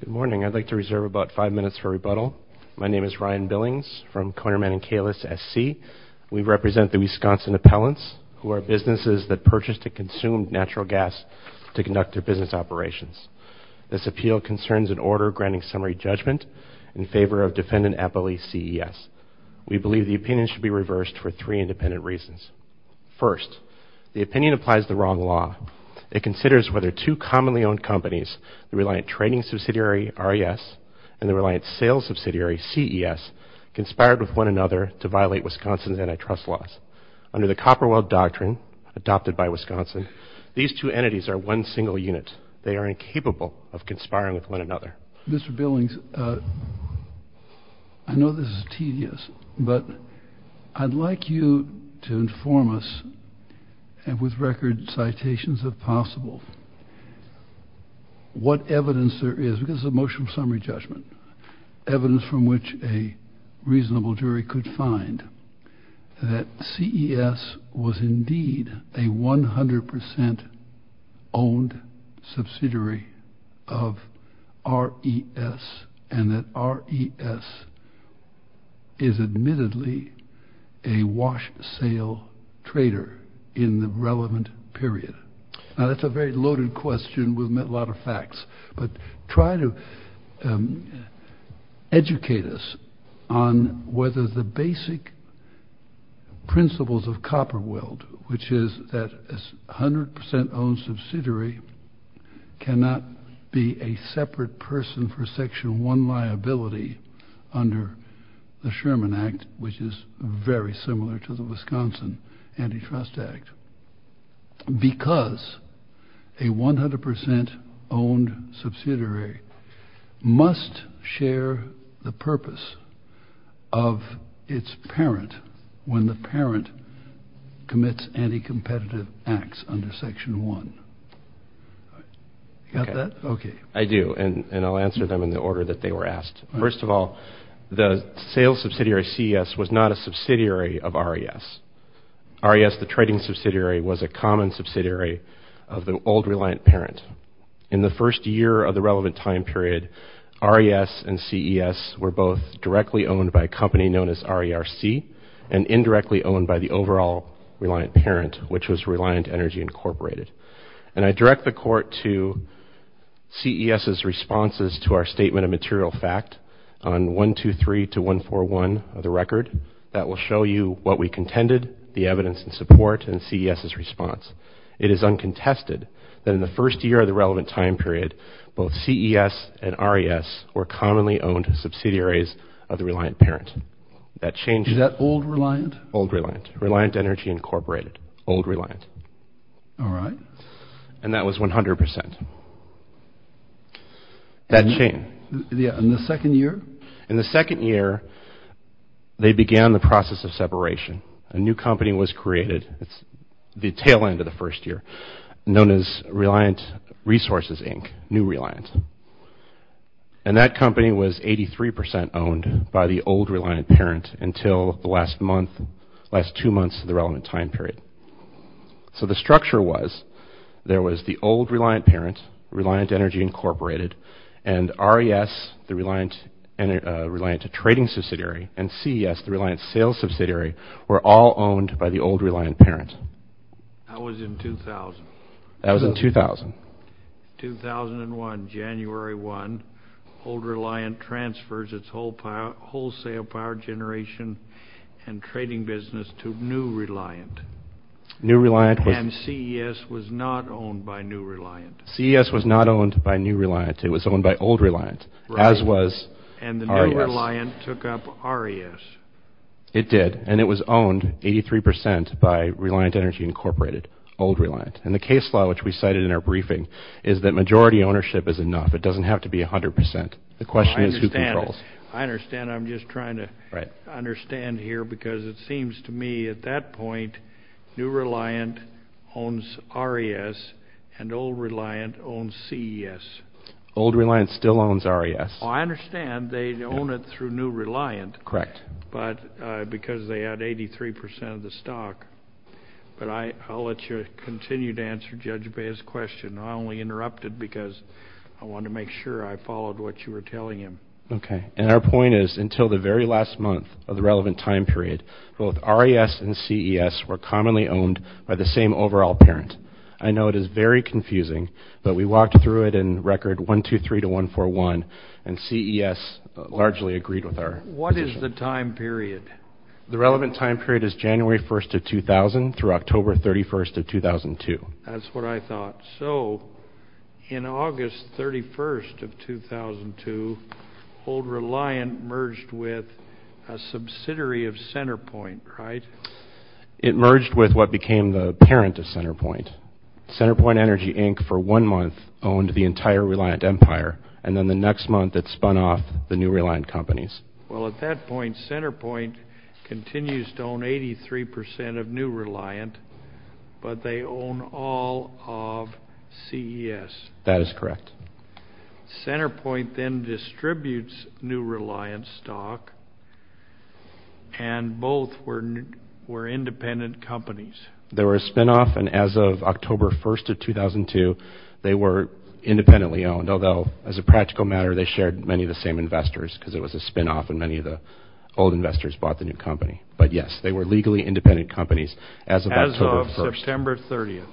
Good morning. I'd like to reserve about five minutes for rebuttal. My name is Ryan Billings from Conerman & Kalis, S.C. We represent the Wisconsin Appellants, who are businesses that purchase and consume natural gas to conduct their business operations. This appeal concerns an order granting summary judgment in favor of Defendant Appellee C.E.S. We believe the opinion should be reversed for three independent reasons. First, the opinion applies the wrong law. It considers whether two commonly owned companies, the Reliant Trading Subsidiary, R.E.S., and the Reliant Sales Subsidiary, C.E.S., conspired with one another to violate Wisconsin's antitrust laws. Under the Copperwell Doctrine, adopted by Wisconsin, these two entities are one single unit. They are incapable of conspiring with one another. Mr. Billings, I know this is tedious, but I'd like you to inform us, and with record citations if possible, what evidence there is, because it's a motion for summary judgment, evidence from which a reasonable jury could find that C.E.S. was indeed a 100% owned subsidiary of R.E.S. and that R.E.S. is admittedly a wash sale trader in the relevant period. Now, that's a very loaded question. We've met a lot of facts, but try to educate us on whether the basic principles of Copperwell, which is that a 100% owned subsidiary cannot be a separate person for Section 1 liability under the Sherman Act, which is very similar to the Wisconsin Antitrust Act, because a 100% owned subsidiary must share the purpose of its parent when the parent commits anti-competitive acts under Section 1. Got that? Okay. I do, and I'll answer them in the order that they were asked. First of all, the sales subsidiary C.E.S. was not a subsidiary of R.E.S. R.E.S., the trading subsidiary, was a common subsidiary of the old reliant parent. In the first year of the relevant time period, R.E.S. and C.E.S. were both directly owned by a company known as R.E.R.C. and indirectly owned by the overall reliant parent, which was Reliant Energy Incorporated. And I direct the court to C.E.S.'s responses to our statement of material fact on 123 to 141 of the record that will show you what we contended, the evidence and support, and C.E.S.'s response. It is uncontested that in the first year of the relevant time period, both C.E.S. and R.E.S. were commonly owned subsidiaries of the reliant parent. That changed- Is that old reliant? Old reliant. Reliant Energy Incorporated. Old reliant. All right. And that was 100%. That changed. In the second year? In the second year, they began the process of separation. A new company was created. It's the tail end of the first year, known as Reliant Resources, Inc., New Reliant. And that company was 83% owned by the old reliant parent until the last month, last two months of the relevant time period. So the structure was, there was the old reliant parent, Reliant Energy Incorporated, and R.E.S., the Reliant Trading Subsidiary, and C.E.S., the Reliant Sales Subsidiary, were all owned by the old reliant parent. That was in 2000. That was in 2000. 2001, January 1, old reliant transfers its wholesale power generation and trading business to New Reliant. New Reliant was- And C.E.S. was not owned by New Reliant. C.E.S. was not owned by New Reliant. It was owned by old reliant, as was R.E.S. And the new reliant took up R.E.S. It did, and it was owned 83% by Reliant Energy Incorporated, old reliant. And the case law, which we cited in our briefing, is that majority ownership is enough. It doesn't have to be 100%. The question is who controls. I understand. I'm just trying to understand here, because it seems to me, at that point, New Reliant owns R.E.S., and old Reliant owns C.E.S. Old Reliant still owns R.E.S. I understand. They own it through New Reliant. Correct. But because they had 83% of the stock. But I'll let you continue to answer Judge Bea's question. I only interrupted because I wanted to make sure I followed what you were telling him. Okay. And our point is, until the very last month of the relevant time period, both R.E.S. and C.E.S. were commonly owned by the same overall parent. I know it is very confusing, but we walked through it in record 123 to 141, and C.E.S. largely agreed with our- What is the time period? The relevant time period is January 1st of 2000 through October 31st of 2002. That's what I thought. So, in August 31st of 2002, old Reliant merged with a subsidiary of CenterPoint, right? It merged with what became the parent of CenterPoint. CenterPoint Energy, Inc., for one month, owned the entire Reliant empire, and then the next month, it spun off the New Reliant companies. Well, at that point, CenterPoint continues to own 83% of New Reliant, but they own all of C.E.S. That is correct. CenterPoint then distributes New Reliant stock, and both were independent companies. They were a spinoff, and as of October 1st of 2002, they were independently owned, although, as a practical matter, they shared many of the same investors, because it was a spinoff, and many of the old investors bought the new company. But yes, they were legally independent companies as of October 1st. As of September 30th.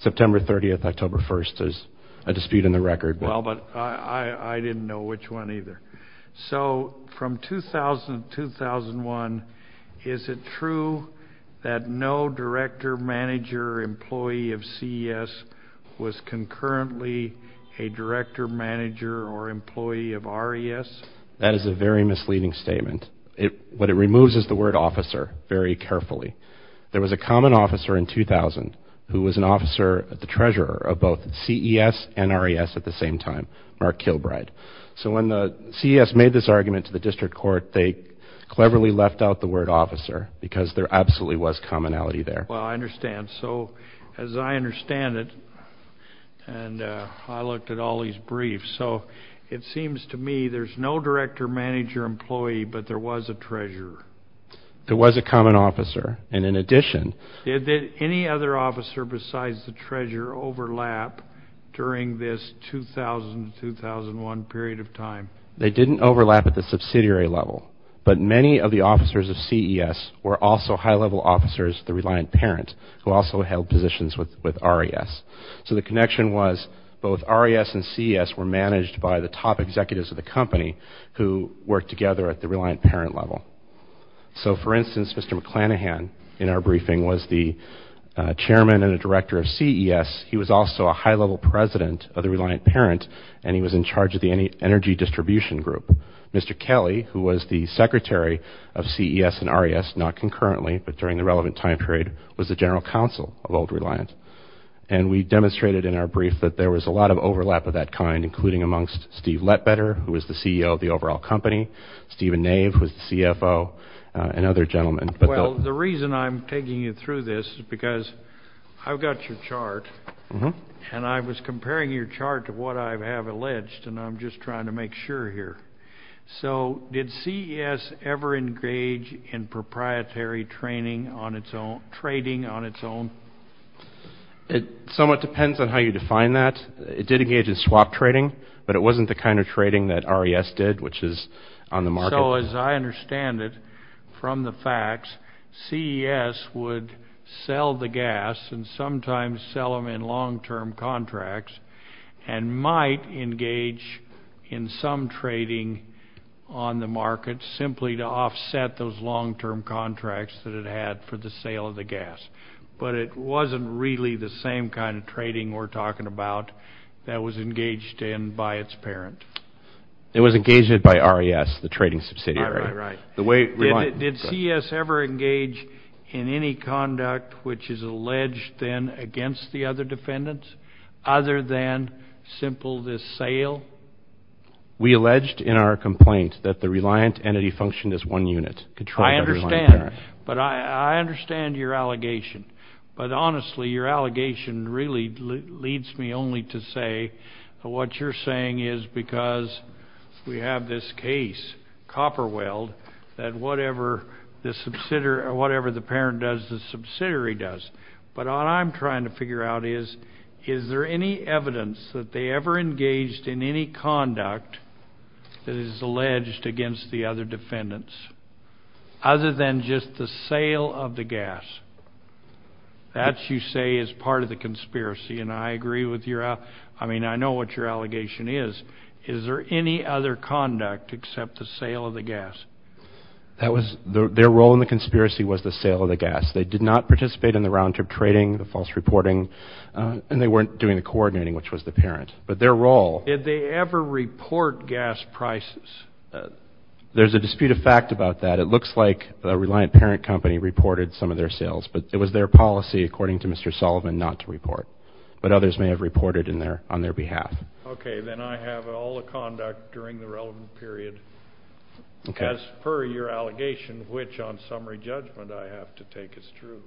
September 30th, October 1st. There's a dispute in the record. Well, but I didn't know which one either. C.E.S. was concurrently a director, manager, or employee of R.E.S.? That is a very misleading statement. What it removes is the word officer very carefully. There was a common officer in 2000 who was an officer, the treasurer of both C.E.S. and R.E.S. at the same time, Mark Kilbride. So when C.E.S. made this argument to the district court, they cleverly left out the word officer, because there absolutely was commonality there. Well, I understand. So as I understand it, and I looked at all these briefs, so it seems to me there's no director, manager, employee, but there was a treasurer. There was a common officer, and in addition. Did any other officer besides the treasurer overlap during this 2000-2001 period of time? They didn't overlap at the subsidiary level, but many of the officers of C.E.S. were also high-level officers, the Reliant Parent, who also held positions with R.E.S. So the connection was both R.E.S. and C.E.S. were managed by the top executives of the company who worked together at the Reliant Parent level. So, for instance, Mr. McClanahan in our briefing was the chairman and a director of C.E.S. He was also a high-level president of the Reliant Parent, and he was in charge of the energy distribution group. Mr. Kelly, who was the secretary of C.E.S. and R.E.S., not concurrently, but during the relevant time period, was the general counsel of Old Reliant. And we demonstrated in our brief that there was a lot of overlap of that kind, including amongst Steve Letbetter, who was the CEO of the overall company, Stephen Nave, who was the CFO, and other gentlemen. Well, the reason I'm taking you through this is because I've got your chart, and I was comparing your chart to what I have alleged, and I'm just trying to make sure here. So did C.E.S. ever engage in proprietary trading on its own? It somewhat depends on how you define that. It did engage in swap trading, but it wasn't the kind of trading that R.E.S. did, which is on the market. So as I understand it, from the facts, C.E.S. would sell the gas and sometimes sell them in long-term contracts and might engage in some trading on the market simply to offset those long-term contracts that it had for the sale of the gas. But it wasn't really the same kind of trading we're talking about that was engaged in by its parent. It was engaged by R.E.S., the trading subsidiary. Did C.E.S. ever engage in any conduct which is alleged then against the other defendants other than simple this sale? We alleged in our complaint that the reliant entity functioned as one unit. I understand. But I understand your allegation. But honestly, your allegation really leads me only to say that what you're saying is because we have this case, Copperweld, that whatever the parent does, the subsidiary does. But what I'm trying to figure out is, is there any evidence that they ever engaged in any conduct that is alleged against the other defendants other than just the sale of the gas? That, you say, is part of the conspiracy. And I agree with your — I mean, I know what your allegation is. Is there any other conduct except the sale of the gas? That was — their role in the conspiracy was the sale of the gas. They did not participate in the round-trip trading, the false reporting, and they weren't doing the coordinating, which was the parent. But their role — Did they ever report gas prices? There's a dispute of fact about that. It looks like the reliant parent company reported some of their sales. But it was their policy, according to Mr. Sullivan, not to report. But others may have reported on their behalf. Okay. Then I have all the conduct during the relevant period. Okay. As per your allegation, which on summary judgment I have to take as true.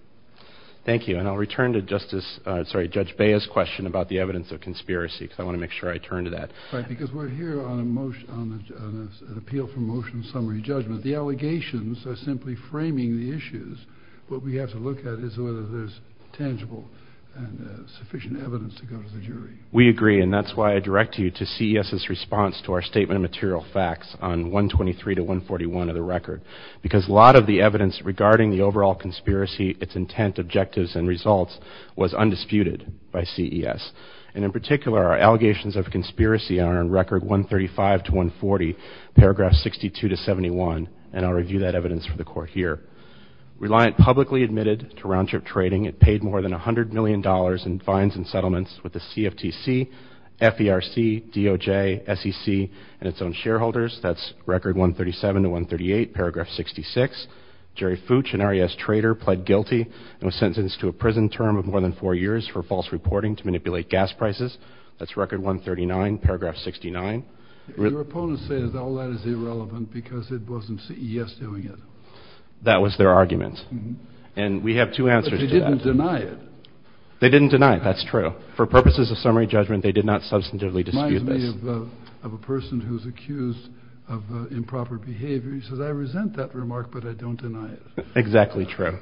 Thank you. And I'll return to Justice — sorry, Judge Bea's question about the evidence of conspiracy, because I want to make sure I turn to that. Right, because we're here on an appeal for motion summary judgment. The allegations are simply framing the issues. What we have to look at is whether there's tangible and sufficient evidence to go to the jury. We agree, and that's why I direct you to CES's response to our statement of material facts on 123 to 141 of the record, because a lot of the evidence regarding the overall conspiracy, its intent, objectives, and results was undisputed by CES. And in particular, our allegations of conspiracy are in Record 135 to 140, Paragraph 62 to 71. And I'll review that evidence for the Court here. Reliant publicly admitted to roundtrip trading, it paid more than $100 million in fines and settlements with the CFTC, FERC, DOJ, SEC, and its own shareholders. That's Record 137 to 138, Paragraph 66. Jerry Fooch, an RES trader, pled guilty and was sentenced to a prison term of more than four years for false reporting to manipulate gas prices. That's Record 139, Paragraph 69. Your opponents say that all that is irrelevant because it wasn't CES doing it. That was their argument. And we have two answers to that. But they didn't deny it. They didn't deny it. That's true. For purposes of summary judgment, they did not substantively dispute this. You have a person who's accused of improper behavior. He says, I resent that remark, but I don't deny it. Exactly true.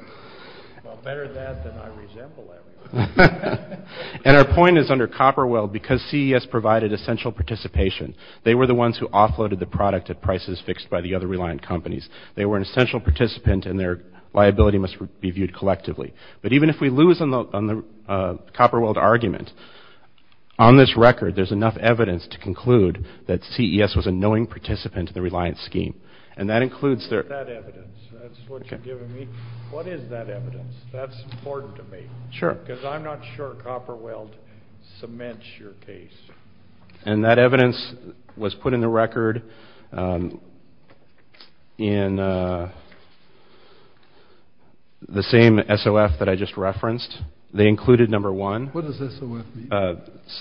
Well, better that than I resent the last one. And our point is, under Copperweld, because CES provided essential participation, they were the ones who offloaded the product at prices fixed by the other reliant companies. They were an essential participant, and their liability must be viewed collectively. But even if we lose on the Copperweld argument, on this record, there's enough evidence to conclude that CES was a knowing participant in the reliance scheme. And that includes their... What is that evidence? That's what you're giving me. What is that evidence? That's important to me. Sure. Because I'm not sure Copperweld cements your case. And that evidence was put in the record in the same SOF that I just referenced. They included number one. What does SOF mean?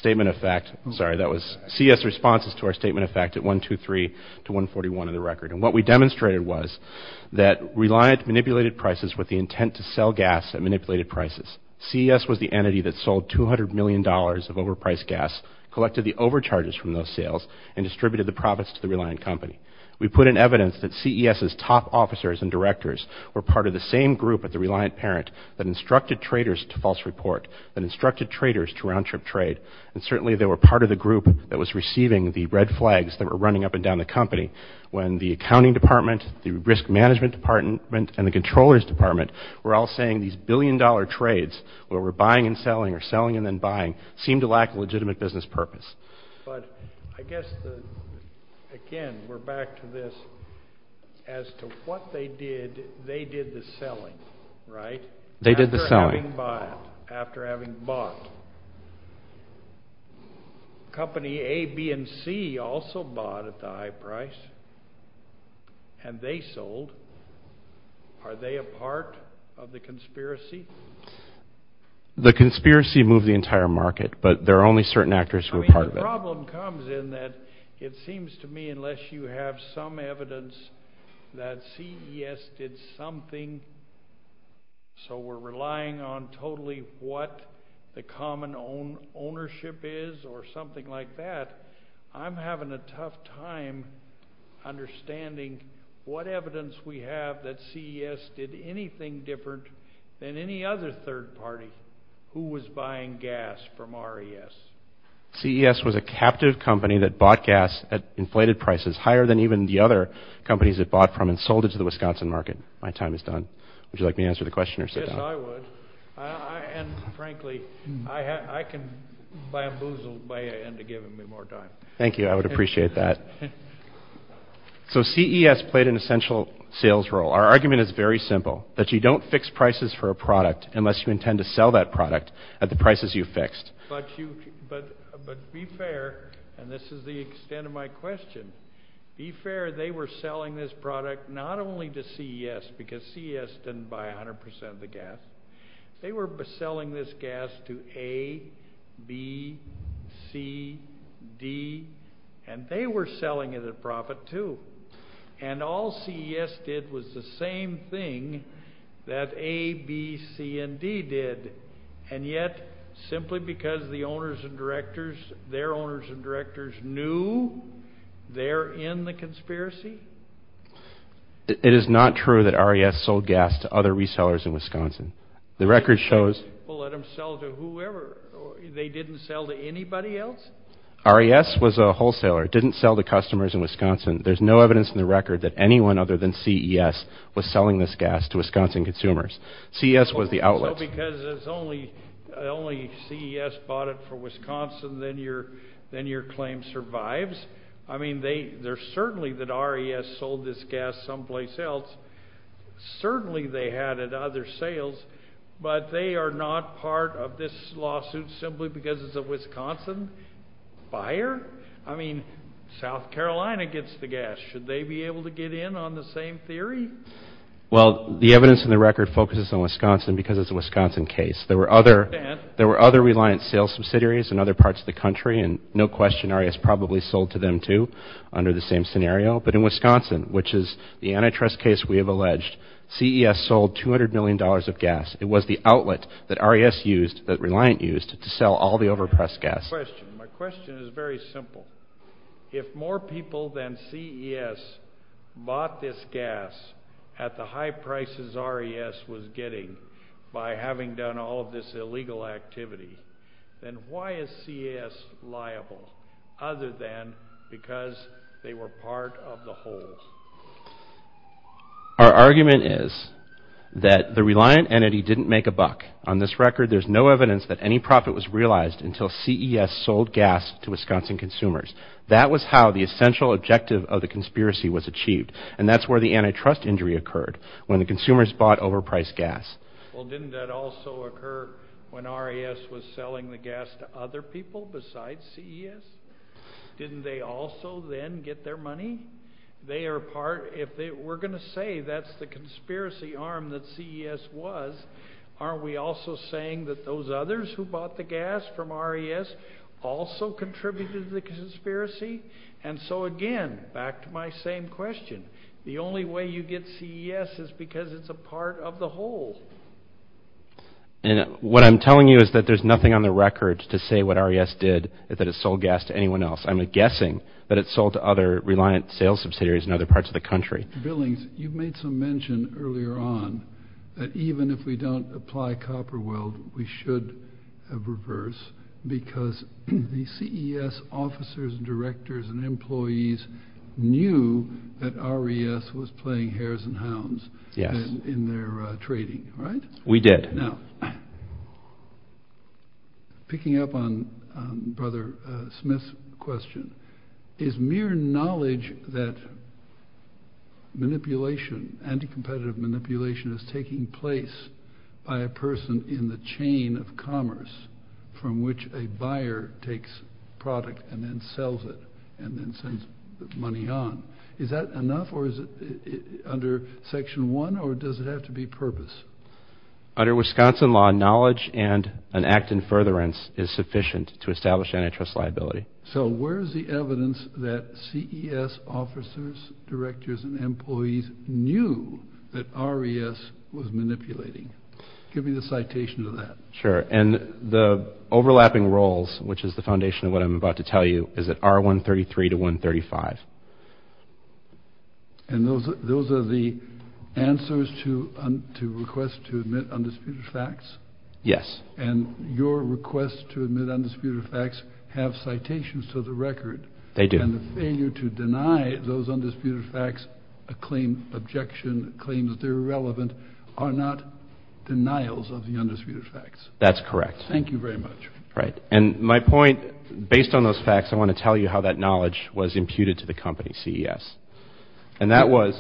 Statement of fact. Sorry, that was CES responses to our statement of fact at 123 to 141 in the record. And what we demonstrated was that reliant manipulated prices with the intent to sell gas at manipulated prices. CES was the entity that sold $200 million of overpriced gas, collected the overcharges from those sales, and distributed the profits to the reliant company. We put in evidence that CES's top officers and directors were part of the same group at the reliant parent that instructed traders to false report, that instructed traders to round-trip trade. And certainly they were part of the group that was receiving the red flags that were running up and down the company when the accounting department, the risk management department, and the controllers department were all saying these billion-dollar trades, where we're buying and selling or selling and then buying, seemed to lack a legitimate business purpose. But I guess, again, we're back to this. As to what they did, they did the selling, right? They did the selling. After having bought. Company A, B, and C also bought at the high price, and they sold. Are they a part of the conspiracy? The conspiracy moved the entire market, but there are only certain actors who are part of it. I mean, the problem comes in that it seems to me, unless you have some evidence, that CES did something, so we're relying on totally what the common ownership is or something like that, I'm having a tough time understanding what evidence we have that CES did anything different than any other third party who was buying gas from RES. CES was a captive company that bought gas at inflated prices, higher than even the other companies it bought from and sold it to the Wisconsin market. My time is done. Would you like me to answer the question or sit down? Yes, I would. And, frankly, I can bamboozle Bayer into giving me more time. Thank you. I would appreciate that. So CES played an essential sales role. Our argument is very simple, that you don't fix prices for a product unless you intend to sell that product at the prices you fixed. But be fair, and this is the extent of my question, be fair, they were selling this product not only to CES, because CES didn't buy 100% of the gas, they were selling this gas to A, B, C, D, and they were selling it at profit, too. And all CES did was the same thing that A, B, C, and D did. And yet, simply because the owners and directors, their owners and directors knew, they're in the conspiracy? It is not true that RES sold gas to other resellers in Wisconsin. The record shows they didn't sell to anybody else? RES was a wholesaler. It didn't sell to customers in Wisconsin. There's no evidence in the record that anyone other than CES was selling this gas to Wisconsin consumers. CES was the outlet. So because only CES bought it for Wisconsin, then your claim survives? I mean, there's certainly that RES sold this gas someplace else. Certainly they had it at other sales, but they are not part of this lawsuit simply because it's a Wisconsin buyer? I mean, South Carolina gets the gas. Should they be able to get in on the same theory? Well, the evidence in the record focuses on Wisconsin because it's a Wisconsin case. There were other Reliant sales subsidiaries in other parts of the country, and no question RES probably sold to them, too, under the same scenario. But in Wisconsin, which is the antitrust case we have alleged, CES sold $200 million of gas. It was the outlet that RES used, that Reliant used, to sell all the overpriced gas. My question is very simple. If more people than CES bought this gas at the high prices RES was getting by having done all of this illegal activity, then why is CES liable other than because they were part of the whole? Our argument is that the Reliant entity didn't make a buck. On this record, there's no evidence that any profit was realized until CES sold gas to Wisconsin consumers. That was how the essential objective of the conspiracy was achieved, and that's where the antitrust injury occurred, when the consumers bought overpriced gas. Well, didn't that also occur when RES was selling the gas to other people besides CES? Didn't they also then get their money? If we're going to say that's the conspiracy arm that CES was, aren't we also saying that those others who bought the gas from RES also contributed to the conspiracy? And so, again, back to my same question, the only way you get CES is because it's a part of the whole. And what I'm telling you is that there's nothing on the record to say what RES did, that it sold gas to anyone else. I'm guessing that it sold to other Reliant sales subsidiaries in other parts of the country. Billings, you made some mention earlier on that even if we don't apply copper weld, we should reverse because the CES officers and directors and employees knew that RES was playing hares and hounds in their trading, right? We did. Now, picking up on Brother Smith's question, is mere knowledge that manipulation, anti-competitive manipulation is taking place by a person in the chain of commerce from which a buyer takes product and then sells it and then sends the money on, is that enough or is it under Section 1 or does it have to be purpose? Under Wisconsin law, knowledge and an act in furtherance is sufficient to establish antitrust liability. So where is the evidence that CES officers, directors, and employees knew that RES was manipulating? Give me the citation of that. Sure. And the overlapping roles, which is the foundation of what I'm about to tell you, is at R133 to 135. And those are the answers to requests to admit undisputed facts? Yes. And your requests to admit undisputed facts have citations to the record? They do. And the failure to deny those undisputed facts, a claim, objection, claims they're irrelevant, are not denials of the undisputed facts? That's correct. Thank you very much. Right. And my point, based on those facts, I want to tell you how that knowledge was imputed to the company, CES. And that was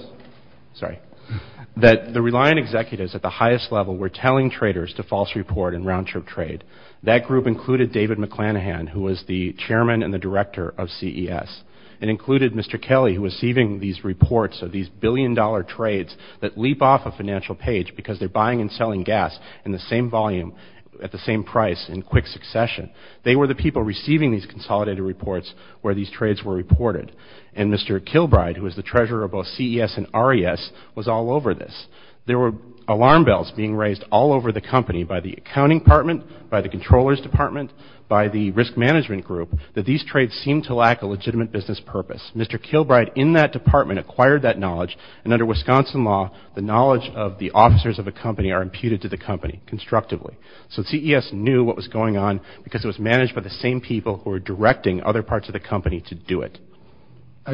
that the reliant executives at the highest level were telling traders to false report and round-trip trade. That group included David McClanahan, who was the chairman and the director of CES. It included Mr. Kelly, who was receiving these reports of these billion-dollar trades that leap off a financial page because they're buying and selling gas in the same volume at the same price in quick succession. They were the people receiving these consolidated reports where these trades were reported. And Mr. Kilbride, who was the treasurer of both CES and RES, was all over this. There were alarm bells being raised all over the company by the accounting department, by the controllers' department, by the risk management group, that these trades seemed to lack a legitimate business purpose. Mr. Kilbride, in that department, acquired that knowledge. And under Wisconsin law, the knowledge of the officers of a company are imputed to the company constructively. So CES knew what was going on because it was managed by the same people who were directing other parts of the company to do it.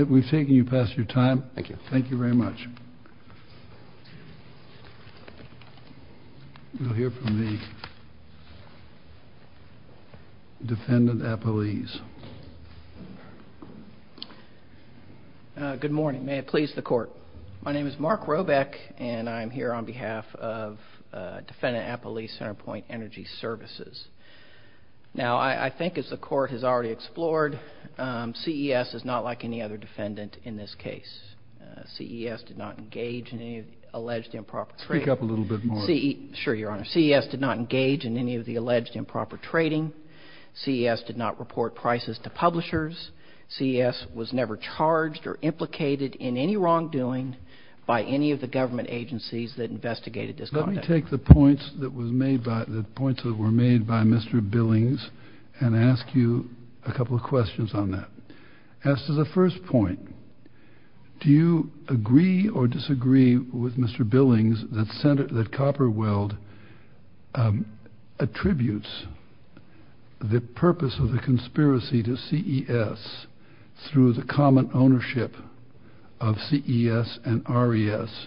We've taken you past your time. Thank you. Thank you very much. We'll hear from the defendant, Apolise. Good morning. May it please the Court. My name is Mark Robeck, and I'm here on behalf of Defendant Apolise Centerpoint Energy Services. Now, I think as the Court has already explored, CES is not like any other defendant in this case. CES did not engage in any alleged improper trade. Speak up a little bit more. Sure, Your Honor. CES did not engage in any of the alleged improper trading. CES did not report prices to publishers. CES was never charged or implicated in any wrongdoing by any of the government agencies that investigated this conduct. Let me take the points that were made by Mr. Billings and ask you a couple of questions on that. As to the first point, do you agree or disagree with Mr. Billings that Copperweld attributes the purpose of the conspiracy to CES through the common ownership of CES and RES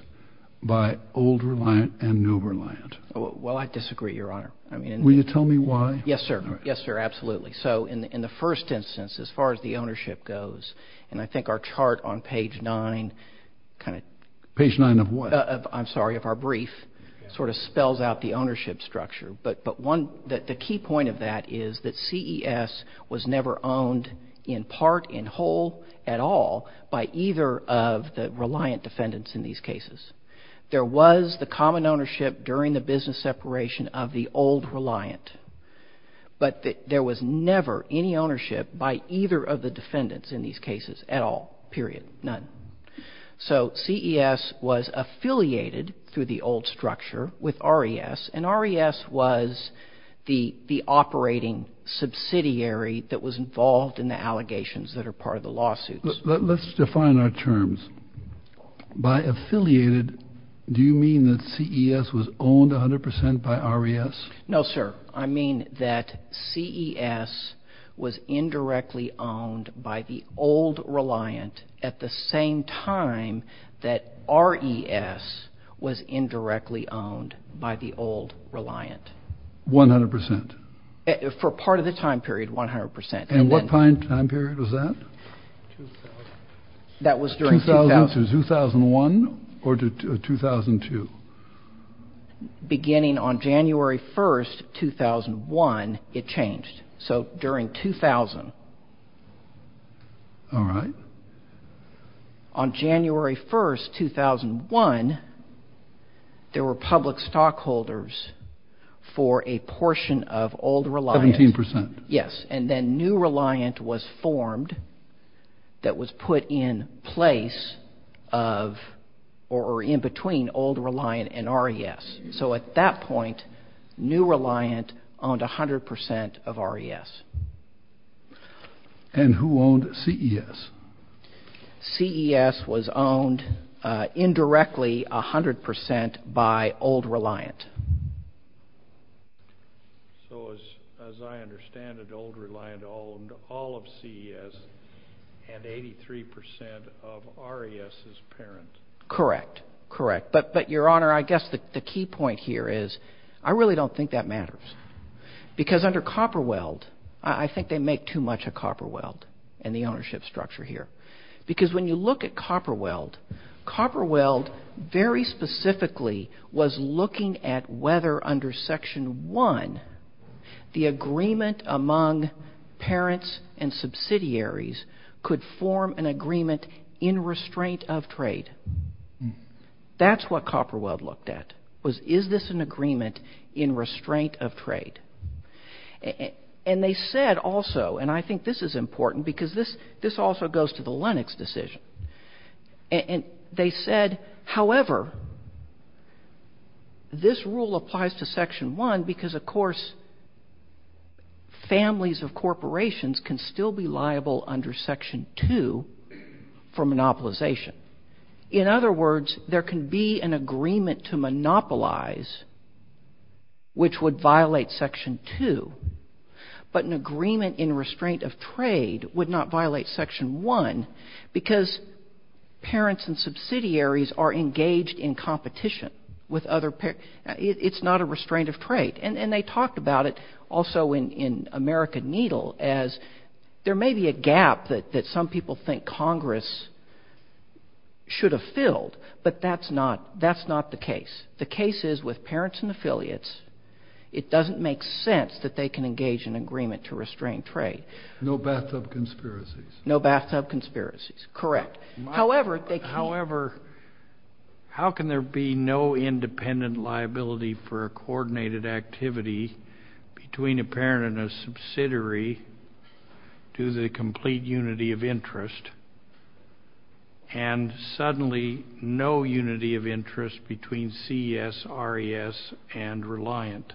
by Old Reliant and New Reliant? Well, I disagree, Your Honor. Will you tell me why? Yes, sir. Yes, sir, absolutely. So in the first instance, as far as the ownership goes, and I think our chart on page 9 kind of… Page 9 of what? I'm sorry, of our brief, sort of spells out the ownership structure. But the key point of that is that CES was never owned in part, in whole, at all by either of the Reliant defendants in these cases. There was the common ownership during the business separation of the Old Reliant. But there was never any ownership by either of the defendants in these cases at all, period, none. So CES was affiliated through the old structure with RES, and RES was the operating subsidiary that was involved in the allegations that are part of the lawsuits. Let's define our terms. By affiliated, do you mean that CES was owned 100 percent by RES? No, sir. I mean that CES was indirectly owned by the Old Reliant at the same time that RES was indirectly owned by the Old Reliant. 100 percent? For part of the time period, 100 percent. And what time period was that? That was during 2000. 2001 or 2002? Beginning on January 1st, 2001, it changed. So during 2000. All right. On January 1st, 2001, there were public stockholders for a portion of Old Reliant. 17 percent. Yes, and then New Reliant was formed that was put in place of or in between Old Reliant and RES. So at that point, New Reliant owned 100 percent of RES. And who owned CES? CES was owned indirectly 100 percent by Old Reliant. So as I understand it, Old Reliant owned all of CES and 83 percent of RES's parent. Correct. Correct. But, Your Honor, I guess the key point here is I really don't think that matters. Because under Copperweld, I think they make too much of Copperweld in the ownership structure here. Because when you look at Copperweld, Copperweld very specifically was looking at whether under Section 1, the agreement among parents and subsidiaries could form an agreement in restraint of trade. That's what Copperweld looked at, was is this an agreement in restraint of trade? And they said also, and I think this is important because this also goes to the Lennox decision, and they said, however, this rule applies to Section 1 because, of course, families of corporations can still be liable under Section 2 for monopolization. In other words, there can be an agreement to monopolize, which would violate Section 2, but an agreement in restraint of trade would not violate Section 1 because parents and subsidiaries are engaged in competition with other parents. And they talked about it also in America Needle as there may be a gap that some people think Congress should have filled, but that's not the case. The case is with parents and affiliates, it doesn't make sense that they can engage in an agreement to restrain trade. No bathtub conspiracies. No bathtub conspiracies, correct. However, how can there be no independent liability for a coordinated activity between a parent and a subsidiary due to the complete unity of interest and suddenly no unity of interest between CSRES and Reliant?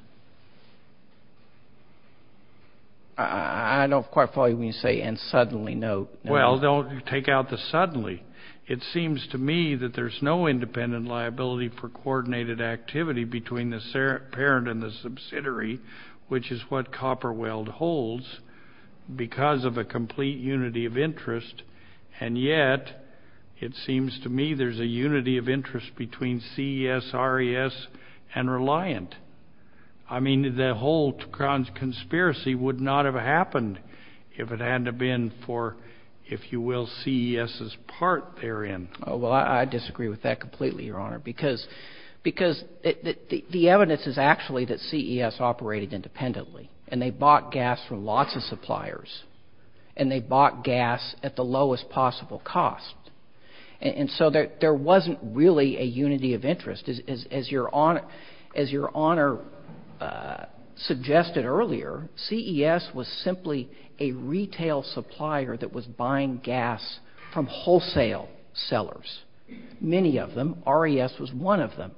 I don't quite follow what you mean when you say and suddenly, no. Well, don't take out the suddenly. It seems to me that there's no independent liability for coordinated activity between the parent and the subsidiary, which is what Copper Weld holds because of a complete unity of interest, and yet it seems to me there's a unity of interest between CSRES and Reliant. I mean, the whole conspiracy would not have happened if it hadn't been for, if you will, CES's part therein. Oh, well, I disagree with that completely, Your Honor, because the evidence is actually that CES operated independently, and they bought gas from lots of suppliers, and they bought gas at the lowest possible cost. And so there wasn't really a unity of interest. As Your Honor suggested earlier, CES was simply a retail supplier that was buying gas from wholesale sellers, many of them. RES was one of them.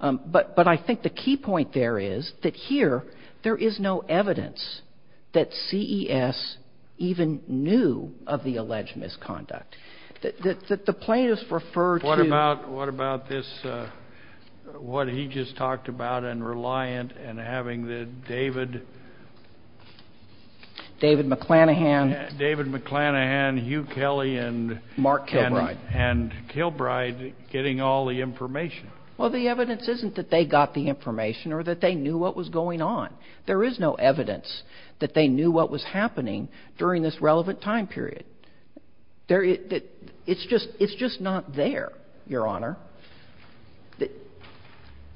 But I think the key point there is that here there is no evidence that CES even knew of the alleged misconduct. The plaintiffs referred to- What about this, what he just talked about in Reliant and having the David- David McClanahan. David McClanahan, Hugh Kelly and- Mark Kilbride. And Kilbride getting all the information. Well, the evidence isn't that they got the information or that they knew what was going on. There is no evidence that they knew what was happening during this relevant time period. It's just not there, Your Honor.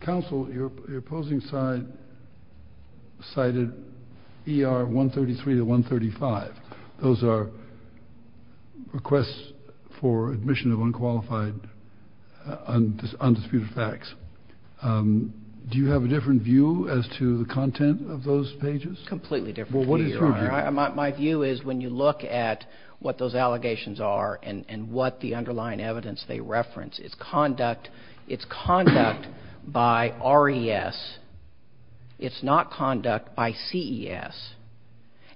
Counsel, your opposing side cited ER 133 to 135. Those are requests for admission of unqualified undisputed facts. Do you have a different view as to the content of those pages? Completely different view, Your Honor. My view is when you look at what those allegations are and what the underlying evidence they reference, it's conduct by RES. It's not conduct by CES.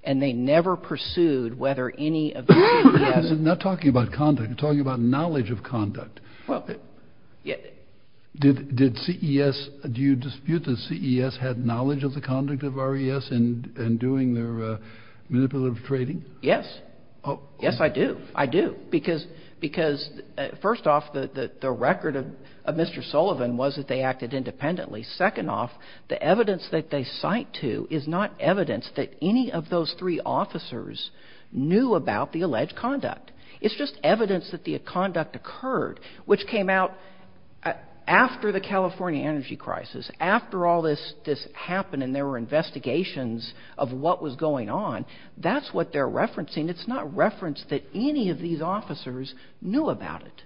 And they never pursued whether any of the CES- I'm not talking about conduct. I'm talking about knowledge of conduct. Did CES-do you dispute that CES had knowledge of the conduct of RES in doing their manipulative trading? Yes. Yes, I do. I do. Because, first off, the record of Mr. Sullivan was that they acted independently. Second off, the evidence that they cite to is not evidence that any of those three officers knew about the alleged conduct. It's just evidence that the conduct occurred, which came out after the California energy crisis, after all this happened and there were investigations of what was going on. That's what they're referencing. It's not reference that any of these officers knew about it.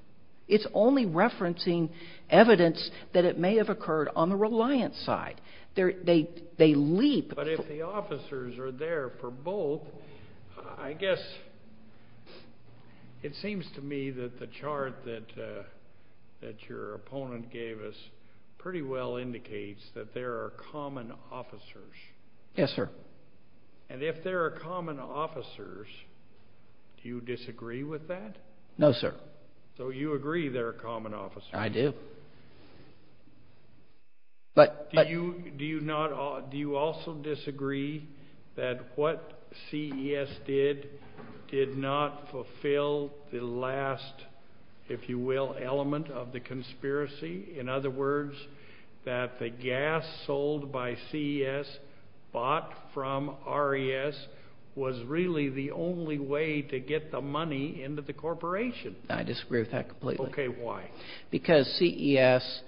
It's only referencing evidence that it may have occurred on the reliant side. They leap. But if the officers are there for both, I guess it seems to me that the chart that your opponent gave us pretty well indicates that there are common officers. Yes, sir. And if there are common officers, do you disagree with that? No, sir. So you agree there are common officers? I do. Do you also disagree that what CES did did not fulfill the last, if you will, element of the conspiracy? In other words, that the gas sold by CES bought from RES was really the only way to get the money into the corporation? I disagree with that completely. Okay. Why? Because CES,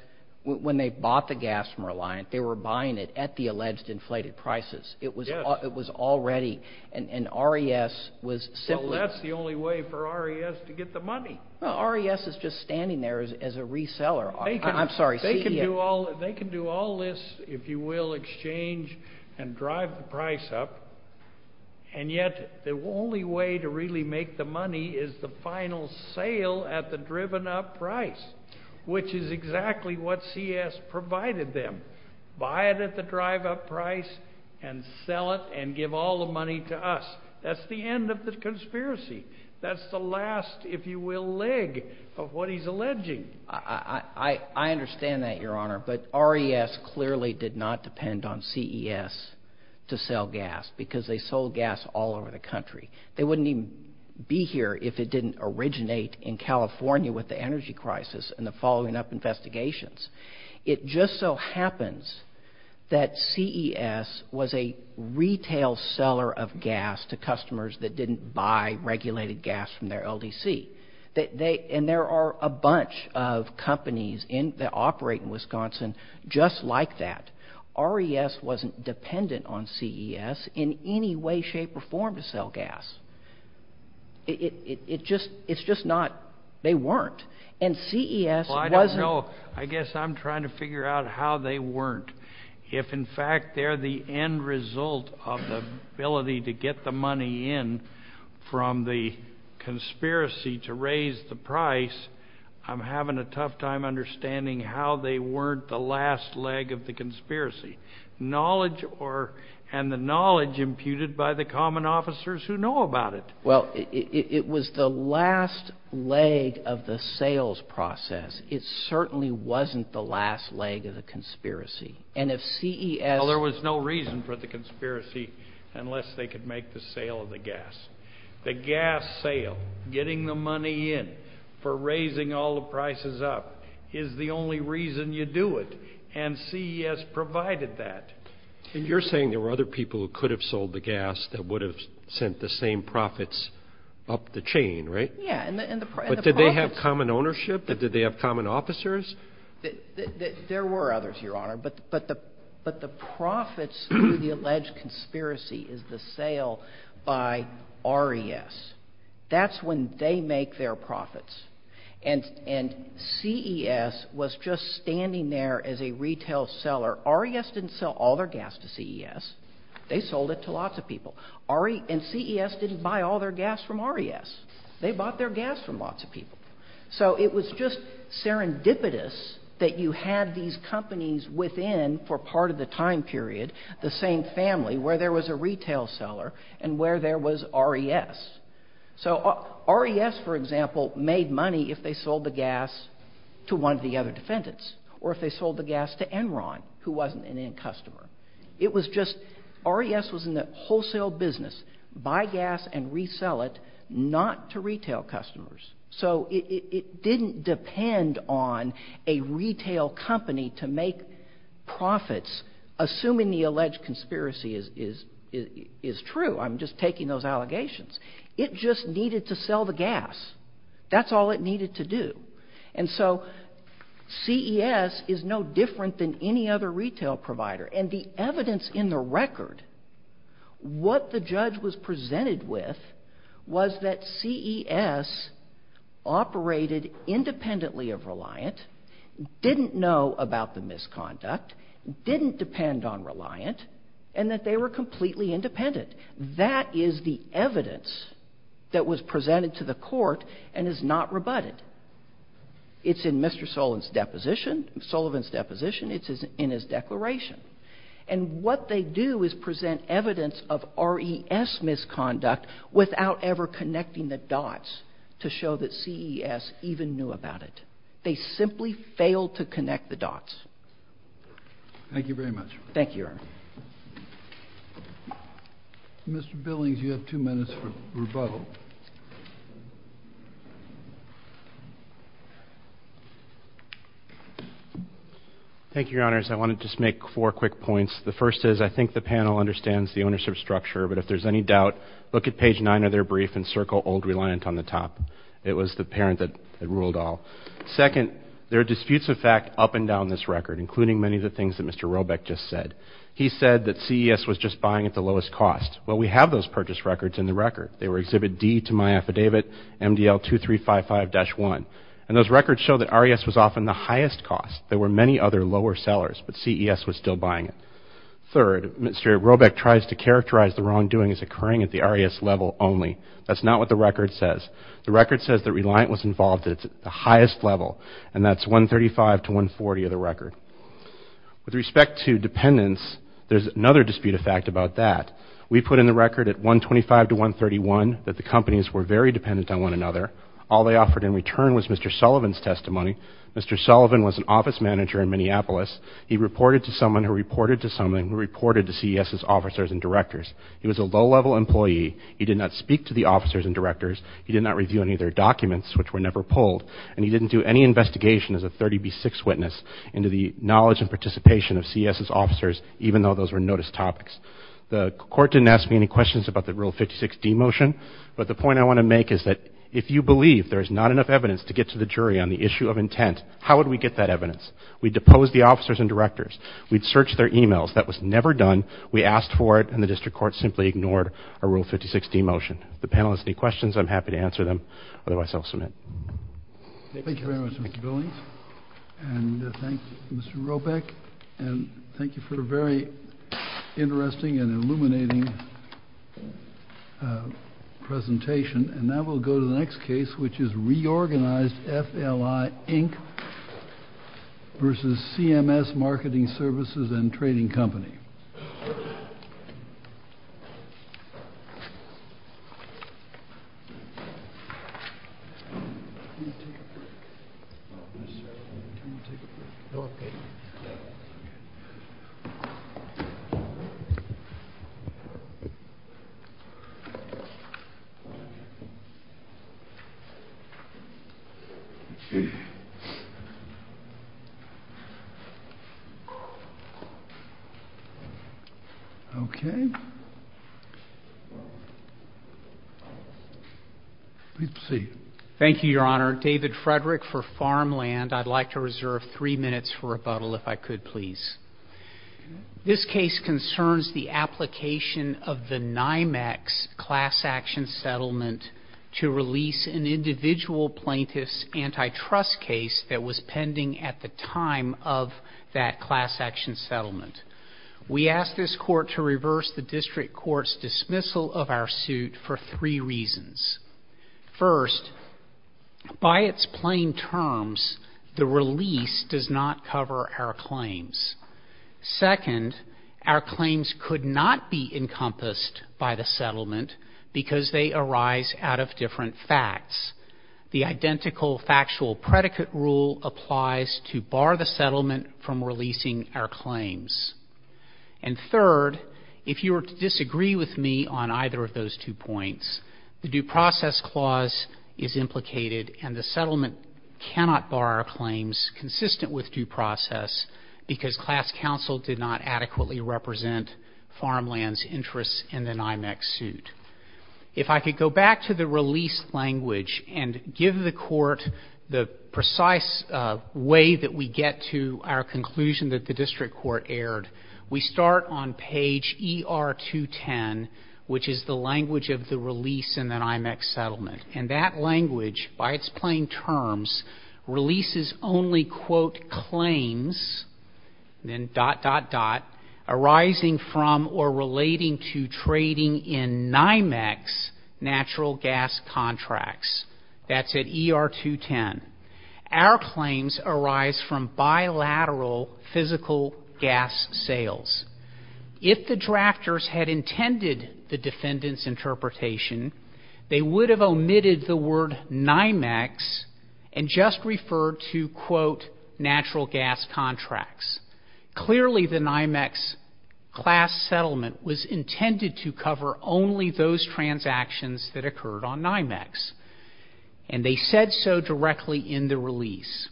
when they bought the gas from Reliant, they were buying it at the alleged inflated prices. Yes. It was already. And RES was simply. Well, that's the only way for RES to get the money. Well, RES is just standing there as a reseller. I'm sorry, CES. They can do all this, if you will, exchange and drive the price up, and yet the only way to really make the money is the final sale at the driven up price, which is exactly what CES provided them. Buy it at the drive up price and sell it and give all the money to us. That's the end of the conspiracy. That's the last, if you will, leg of what he's alleging. I understand that, Your Honor, but RES clearly did not depend on CES to sell gas because they sold gas all over the country. They wouldn't even be here if it didn't originate in California with the energy crisis and the following up investigations. It just so happens that CES was a retail seller of gas to customers that didn't buy regulated gas from their LDC. And there are a bunch of companies that operate in Wisconsin just like that. RES wasn't dependent on CES in any way, shape or form to sell gas. It's just not. They weren't. And CES wasn't. Well, I don't know. I guess I'm trying to figure out how they weren't. If, in fact, they're the end result of the ability to get the money in from the conspiracy to raise the price, I'm having a tough time understanding how they weren't the last leg of the conspiracy. And the knowledge imputed by the common officers who know about it. Well, it was the last leg of the sales process. It certainly wasn't the last leg of the conspiracy. Well, there was no reason for the conspiracy unless they could make the sale of the gas. The gas sale, getting the money in for raising all the prices up, is the only reason you do it. And CES provided that. And you're saying there were other people who could have sold the gas that would have sent the same profits up the chain, right? Yeah. But did they have common ownership? Did they have common officers? There were others, Your Honor. But the profits through the alleged conspiracy is the sale by RES. That's when they make their profits. And CES was just standing there as a retail seller. RES didn't sell all their gas to CES. They sold it to lots of people. And CES didn't buy all their gas from RES. They bought their gas from lots of people. So it was just serendipitous that you had these companies within, for part of the time period, the same family, where there was a retail seller and where there was RES. So RES, for example, made money if they sold the gas to one of the other defendants or if they sold the gas to Enron, who wasn't an end customer. It was just RES was in the wholesale business, buy gas and resell it, not to retail customers. So it didn't depend on a retail company to make profits, assuming the alleged conspiracy is true. I'm just taking those allegations. It just needed to sell the gas. That's all it needed to do. And so CES is no different than any other retail provider. And the evidence in the record, what the judge was presented with was that CES operated independently of RES, didn't know about the misconduct, didn't depend on RES, and that they were completely independent. That is the evidence that was presented to the court and is not rebutted. It's in Mr. Sullivan's deposition. It's in his declaration. And what they do is present evidence of RES misconduct without ever connecting the dots to show that CES even knew about it. They simply failed to connect the dots. Thank you very much. Thank you, Your Honor. Mr. Billings, you have two minutes for rebuttal. Thank you, Your Honors. I want to just make four quick points. The first is I think the panel understands the ownership structure, but if there's any doubt, look at page 9 of their brief and circle Old Reliant on the top. It was the parent that ruled all. Second, there are disputes of fact up and down this record, including many of the things that Mr. Robeck just said. He said that CES was just buying at the lowest cost. Well, we have those purchase records in the record. They were Exhibit D to my affidavit, MDL 2355-1. And those records show that RES was often the highest cost. There were many other lower sellers, but CES was still buying it. Third, Mr. Robeck tries to characterize the wrongdoing as occurring at the RES level only. That's not what the record says. The record says that Reliant was involved at the highest level, and that's 135 to 140 of the record. With respect to dependents, there's another dispute of fact about that. We put in the record at 125 to 131 that the companies were very dependent on one another. All they offered in return was Mr. Sullivan's testimony. Mr. Sullivan was an office manager in Minneapolis. He reported to someone who reported to someone who reported to CES's officers and directors. He was a low-level employee. He did not speak to the officers and directors. He did not review any of their documents, which were never pulled. And he didn't do any investigation as a 30B6 witness into the knowledge and participation of CES's officers, even though those were notice topics. The court didn't ask me any questions about the Rule 56D motion. But the point I want to make is that if you believe there's not enough evidence to get to the jury on the issue of intent, how would we get that evidence? We'd depose the officers and directors. We'd search their e-mails. That was never done. We asked for it, and the district court simply ignored a Rule 56D motion. If the panel has any questions, I'm happy to answer them. Otherwise, I'll submit. Thank you. Thank you very much, Mr. Billings. And thank you, Mr. Robeck. And thank you for a very interesting and illuminating presentation. And now we'll go to the next case, which is reorganized FLI, Inc. versus CMS Marketing Services and Trading Company. Please proceed. Thank you, Your Honor. David Frederick for Farmland. I'd like to reserve three minutes for rebuttal, if I could, please. This case concerns the application of the NYMEX class action settlement to release an individual plaintiff's antitrust case that was pending at the time of that class action settlement. We asked this court to reverse the district court's dismissal of our suit for three reasons. First, by its plain terms, the release does not cover our claims. Second, our claims could not be encompassed by the settlement because they arise out of different facts. The identical factual predicate rule applies to bar the settlement from releasing our claims. And third, if you were to disagree with me on either of those two points, the due process clause is implicated and the settlement cannot bar our claims consistent with due process because class counsel did not adequately represent Farmland's interests in the NYMEX suit. If I could go back to the release language and give the court the precise way that we get to our conclusion that the district court aired, we start on page ER-210, which is the language of the release in the NYMEX settlement. And that language, by its plain terms, releases only, quote, claims, then dot, dot, dot, arising from or relating to trading in NYMEX natural gas contracts. That's at ER-210. Our claims arise from bilateral physical gas sales. If the drafters had intended the defendant's interpretation, they would have omitted the word NYMEX and just referred to, quote, natural gas contracts. Clearly the NYMEX class settlement was intended to cover only those transactions that occurred on NYMEX. And they said so directly in the release.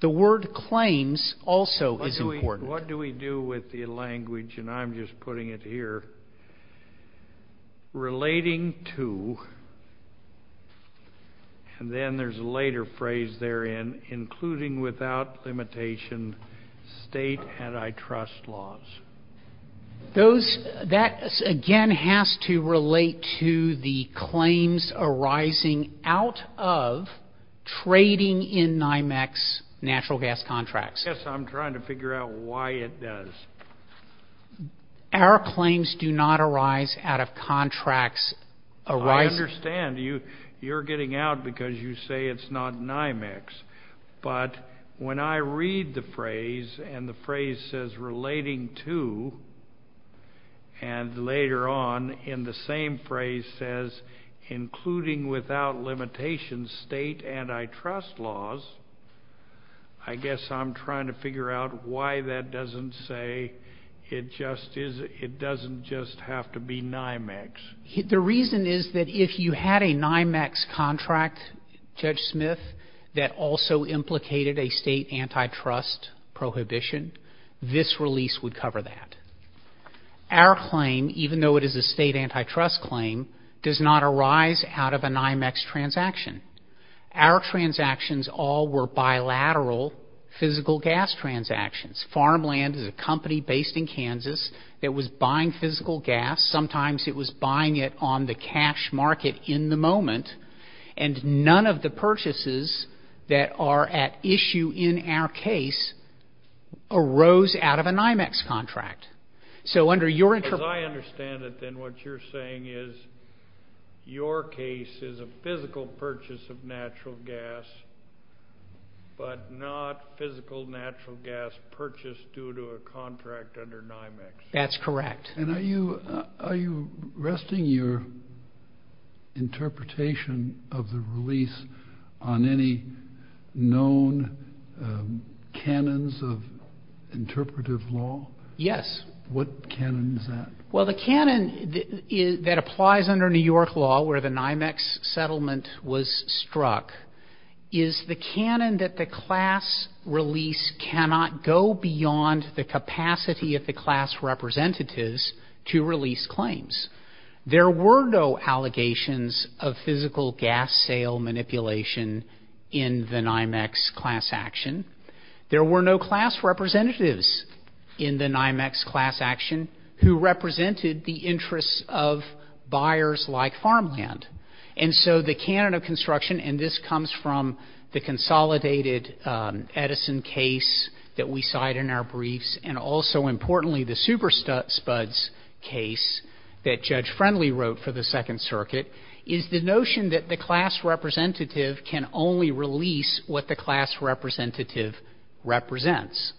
The word claims also is important. What do we do with the language, and I'm just putting it here, relating to, and then there's a later phrase therein, including without limitation state antitrust laws? Those, that again has to relate to the claims arising out of trading in NYMEX natural gas contracts. Yes, I'm trying to figure out why it does. Our claims do not arise out of contracts arising. I understand. You're getting out because you say it's not NYMEX. But when I read the phrase, and the phrase says relating to, and later on in the same phrase says including without limitation state antitrust laws, I guess I'm trying to figure out why that doesn't say it doesn't just have to be NYMEX. The reason is that if you had a NYMEX contract, Judge Smith, that also implicated a state antitrust prohibition, this release would cover that. Our claim, even though it is a state antitrust claim, does not arise out of a NYMEX transaction. Our transactions all were bilateral physical gas transactions. Farmland is a company based in Kansas that was buying physical gas. Sometimes it was buying it on the cash market in the moment, and none of the purchases that are at issue in our case arose out of a NYMEX contract. As I understand it, then what you're saying is your case is a physical purchase of natural gas, but not physical natural gas purchased due to a contract under NYMEX. That's correct. Are you resting your interpretation of the release on any known canons of interpretive law? Yes. What canon is that? Well, the canon that applies under New York law where the NYMEX settlement was struck is the canon that the class release cannot go beyond the capacity of the class representatives to release claims. There were no allegations of physical gas sale manipulation in the NYMEX class action. There were no class representatives in the NYMEX class action who represented the interests of buyers like Farmland. And so the canon of construction, and this comes from the consolidated Edison case that we cite in our briefs, and also importantly the Super Spuds case that Judge Friendly wrote for the Second Circuit, is the notion that the class representative can only release what the class representative represents.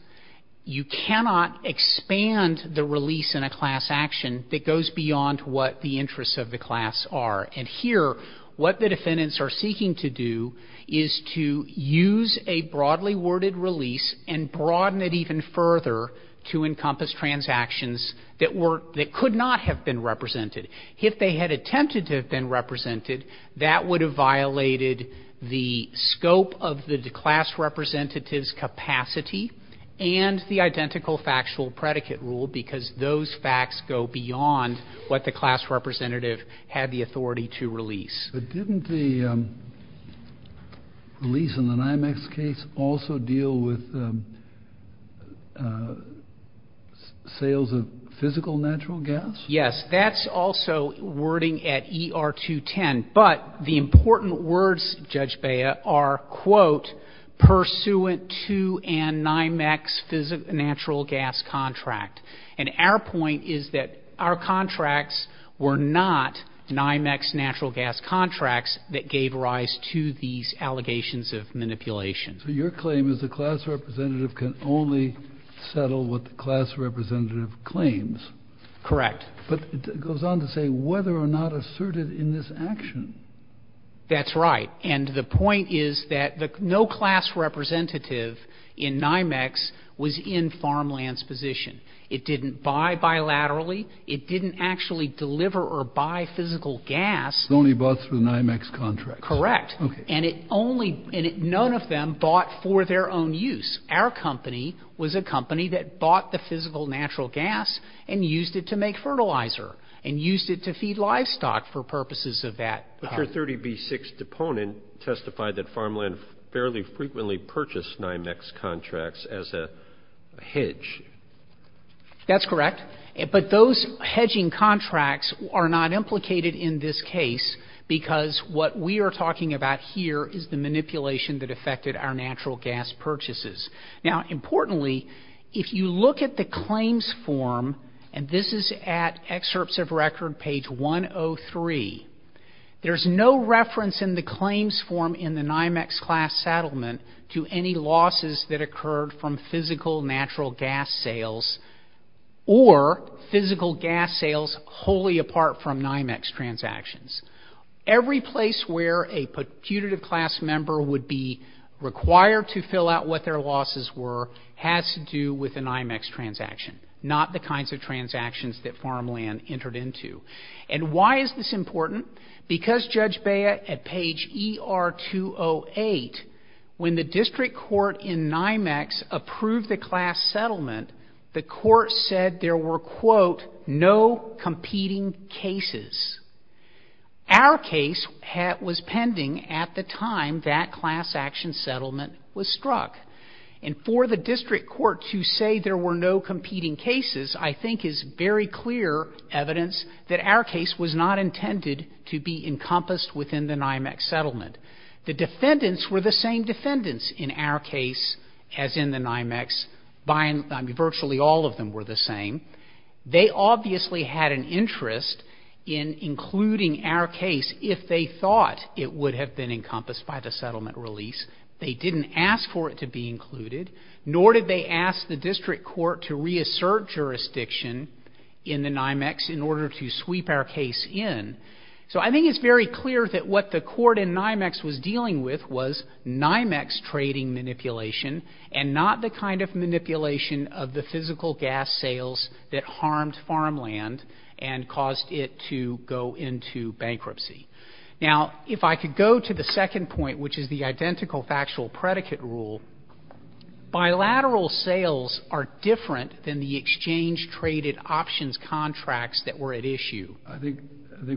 You cannot expand the release in a class action that goes beyond what the interests of the class are. And here what the defendants are seeking to do is to use a broadly worded release and broaden it even further to encompass transactions that were — that could not have been represented. If they had attempted to have been represented, that would have violated the scope of the class representative's capacity and the identical factual predicate rule because those facts go beyond what the class representative had the authority to release. But didn't the release in the NYMEX case also deal with sales of physical natural gas? Yes. That's also wording at ER-210. But the important words, Judge Bea, are, quote, pursuant to a NYMEX natural gas contract. And our point is that our contracts were not NYMEX natural gas contracts that gave rise to these allegations of manipulation. So your claim is the class representative can only settle what the class representative claims. Correct. But it goes on to say whether or not asserted in this action. That's right. And the point is that no class representative in NYMEX was in Farmland's position. It didn't buy bilaterally. It didn't actually deliver or buy physical gas. It only bought through NYMEX contracts. Correct. And it only — and none of them bought for their own use. Our company was a company that bought the physical natural gas and used it to make fertilizer and used it to feed livestock for purposes of that. But your 30B6 deponent testified that Farmland fairly frequently purchased NYMEX contracts as a hedge. That's correct. But those hedging contracts are not implicated in this case because what we are talking about here is the manipulation that affected our natural gas purchases. Now, importantly, if you look at the claims form, and this is at excerpts of record page 103, there's no reference in the claims form in the NYMEX class settlement to any losses that occurred from physical natural gas sales or physical gas sales wholly apart from NYMEX transactions. Every place where a putative class member would be required to fill out what their losses were has to do with a NYMEX transaction, not the kinds of transactions that Farmland entered into. And why is this important? Because, Judge Beah, at page ER208, when the district court in NYMEX approved the class settlement, the court said there were, quote, no competing cases. Our case was pending at the time that class action settlement was struck. And for the district court to say there were no competing cases, I think, is very clear evidence that our case was not intended to be encompassed within the NYMEX settlement. The defendants were the same defendants in our case as in the NYMEX. Virtually all of them were the same. They obviously had an interest in including our case if they thought it would have been encompassed by the settlement release. They didn't ask for it to be included, nor did they ask the district court to reassert jurisdiction in the NYMEX in order to sweep our case in. So I think it's very clear that what the court in NYMEX was dealing with was NYMEX trading manipulation and not the kind of manipulation of the physical gas sales that harmed Farmland and caused it to go into bankruptcy. Now, if I could go to the second point, which is the identical factual predicate rule, bilateral sales are different than the exchange traded options contracts that were at issue. I think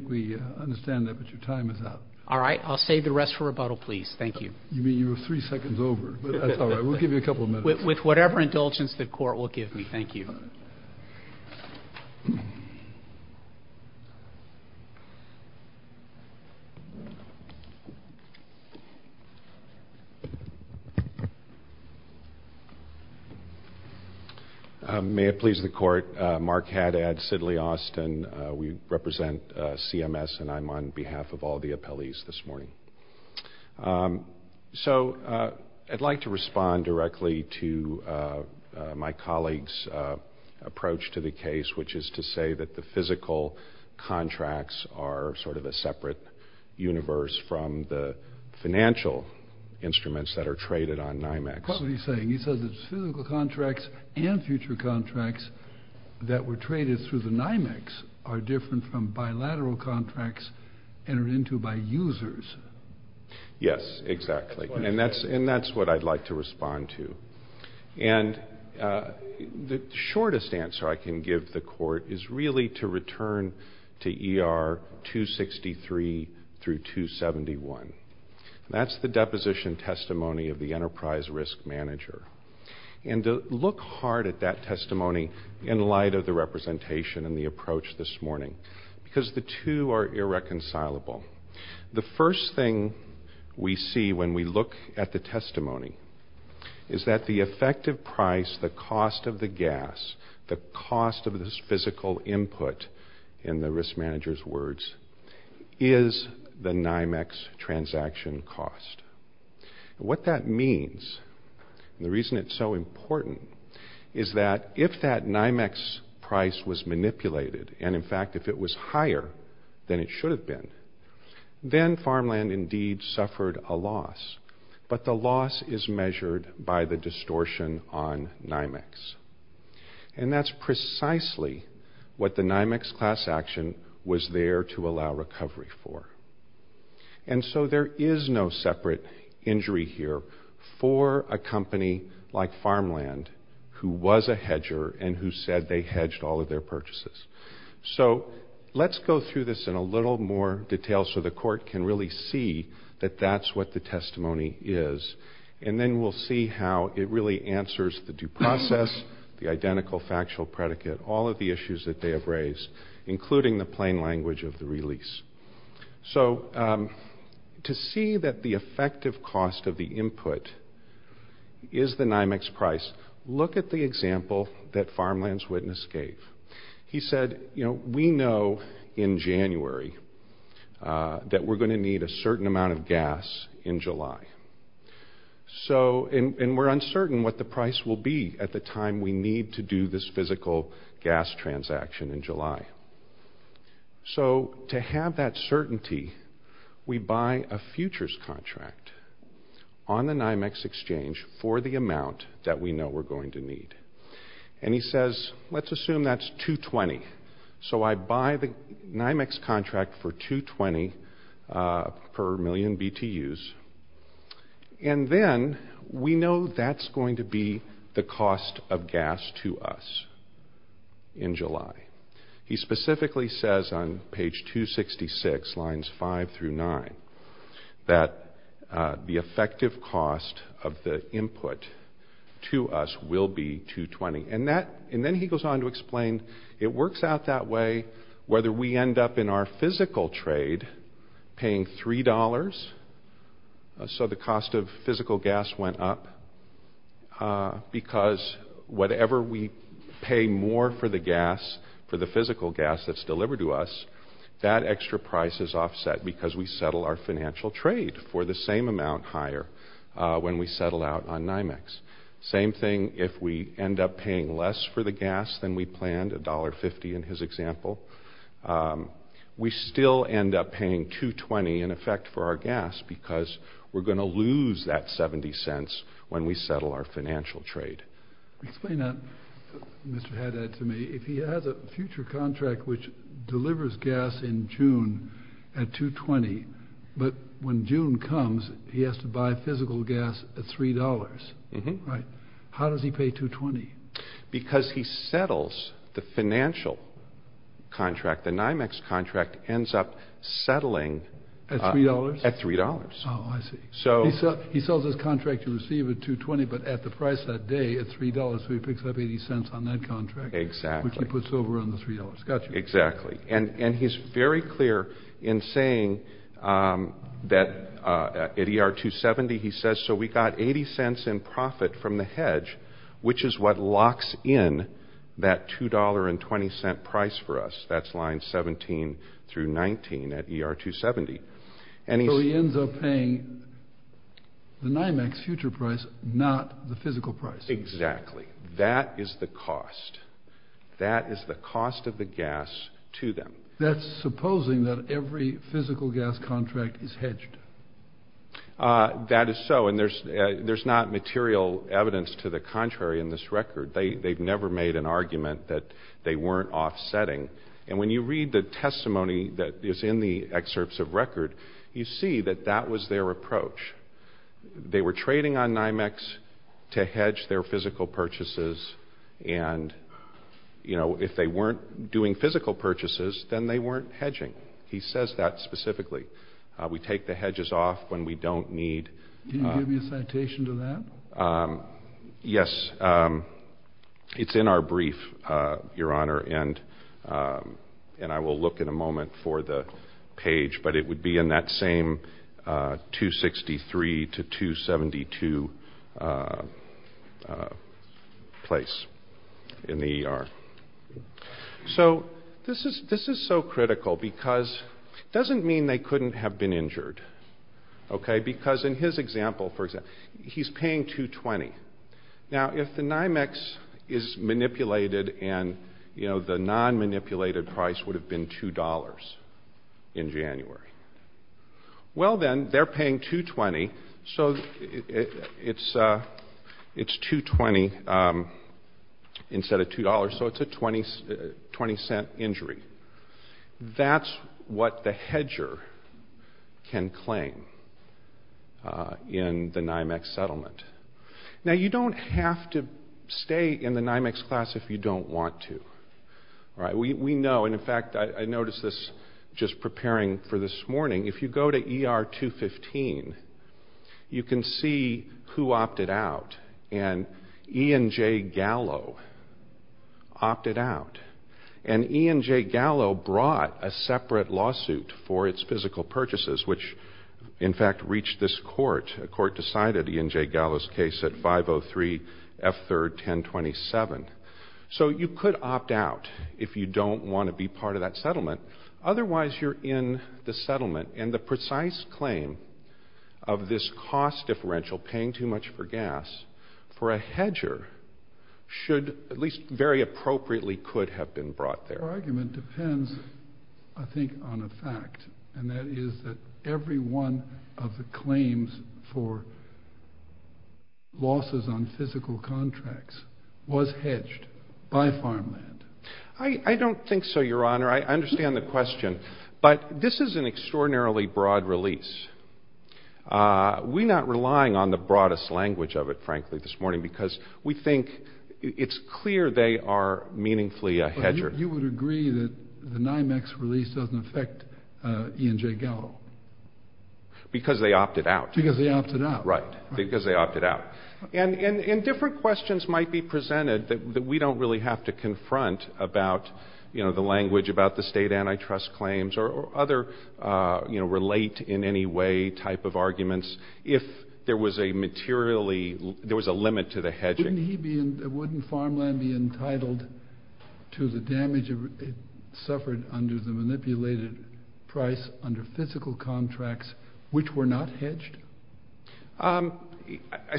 we understand that, but your time is up. All right. I'll save the rest for rebuttal, please. Thank you. You mean you were three seconds over. That's all right. We'll give you a couple of minutes. With whatever indulgence the court will give me. Thank you. May it please the court, Mark Haddad, Sidley Austin. We represent CMS, and I'm on behalf of all the appellees this morning. So I'd like to respond directly to my colleague's approach to the case, which is to say that the physical contracts are sort of a separate universe from the financial instruments that are traded on NYMEX. What were you saying? You said the physical contracts and future contracts that were traded through the NYMEX are different from bilateral contracts entered into by users. Yes, exactly. And that's what I'd like to respond to. And the shortest answer I can give the court is really to return to ER 263 through 271. That's the deposition testimony of the enterprise risk manager. And to look hard at that testimony in light of the representation and the approach this morning, because the two are irreconcilable. The first thing we see when we look at the testimony is that the effective price, the cost of the gas, the cost of this physical input, in the risk manager's words, is the NYMEX transaction cost. What that means, and the reason it's so important, is that if that NYMEX price was manipulated, and in fact if it was higher than it should have been, then Farmland indeed suffered a loss. But the loss is measured by the distortion on NYMEX. And that's precisely what the NYMEX class action was there to allow recovery for. And so there is no separate injury here for a company like Farmland, who was a hedger and who said they hedged all of their purchases. So let's go through this in a little more detail so the court can really see that that's what the testimony is. And then we'll see how it really answers the due process, the identical factual predicate, all of the issues that they have raised, including the plain language of the release. So to see that the effective cost of the input is the NYMEX price, look at the example that Farmland's witness gave. He said, you know, we know in January that we're going to need a certain amount of gas in July. And we're uncertain what the price will be at the time we need to do this physical gas transaction in July. So to have that certainty, we buy a futures contract on the NYMEX exchange for the amount that we know we're going to need. And he says, let's assume that's $220. So I buy the NYMEX contract for $220 per million BTUs. And then we know that's going to be the cost of gas to us in July. He specifically says on page 266, lines 5 through 9, that the effective cost of the input to us will be $220. And then he goes on to explain it works out that way whether we end up in our physical trade paying $3, so the cost of physical gas went up, because whatever we pay more for the gas, for the physical gas that's delivered to us, that extra price is offset because we settle our financial trade for the same amount higher when we settle out on NYMEX. Same thing if we end up paying less for the gas than we planned, $1.50 in his example. We still end up paying $220 in effect for our gas because we're going to lose that $0.70 when we settle our financial trade. Explain that, Mr. Haddad, to me. If he has a future contract which delivers gas in June at $220, but when June comes, he has to buy physical gas at $3. Right. How does he pay $220? Because he settles the financial contract, the NYMEX contract ends up settling at $3. Oh, I see. He sells his contract to receive at $220, but at the price that day at $3, so he picks up $0.80 on that contract. Exactly. Which he puts over on the $3. Gotcha. Exactly. And he's very clear in saying that at ER270, he says, so we got $0.80 in profit from the hedge, which is what locks in that $2.20 price for us. That's line 17 through 19 at ER270. So he ends up paying the NYMEX future price, not the physical price. Exactly. That is the cost. That is the cost of the gas to them. That's supposing that every physical gas contract is hedged. That is so, and there's not material evidence to the contrary in this record. They've never made an argument that they weren't offsetting. And when you read the testimony that is in the excerpts of record, you see that that was their approach. They were trading on NYMEX to hedge their physical purchases, and, you know, if they weren't doing physical purchases, then they weren't hedging. He says that specifically. We take the hedges off when we don't need. Can you give me a citation to that? Yes, it's in our brief, Your Honor, and I will look in a moment for the page, but it would be in that same 263 to 272 place in the ER. So this is so critical because it doesn't mean they couldn't have been injured. Okay, because in his example, for example, he's paying $2.20. Now, if the NYMEX is manipulated and, you know, the non-manipulated price would have been $2.00 in January. Well, then, they're paying $2.20, so it's $2.20 instead of $2.00, so it's a 20-cent injury. That's what the hedger can claim in the NYMEX settlement. Now, you don't have to stay in the NYMEX class if you don't want to. We know, and, in fact, I noticed this just preparing for this morning. If you go to ER 215, you can see who opted out, and E&J Gallo opted out. And E&J Gallo brought a separate lawsuit for its physical purchases, which, in fact, reached this court. A court decided E&J Gallo's case at 503 F3rd 1027. So you could opt out if you don't want to be part of that settlement. Otherwise, you're in the settlement, and the precise claim of this cost differential, paying too much for gas, for a hedger should, at least very appropriately, could have been brought there. Our argument depends, I think, on a fact, and that is that every one of the claims for losses on physical contracts was hedged by Farmland. I don't think so, Your Honor. I understand the question, but this is an extraordinarily broad release. We're not relying on the broadest language of it, frankly, this morning, because we think it's clear they are meaningfully a hedger. You would agree that the NYMEX release doesn't affect E&J Gallo? Because they opted out. Because they opted out. Right. Because they opted out. And different questions might be presented that we don't really have to confront about the language about the state antitrust claims or other relate-in-any-way type of arguments if there was a limit to the hedging. Wouldn't Farmland be entitled to the damage it suffered under the manipulated price under physical contracts which were not hedged?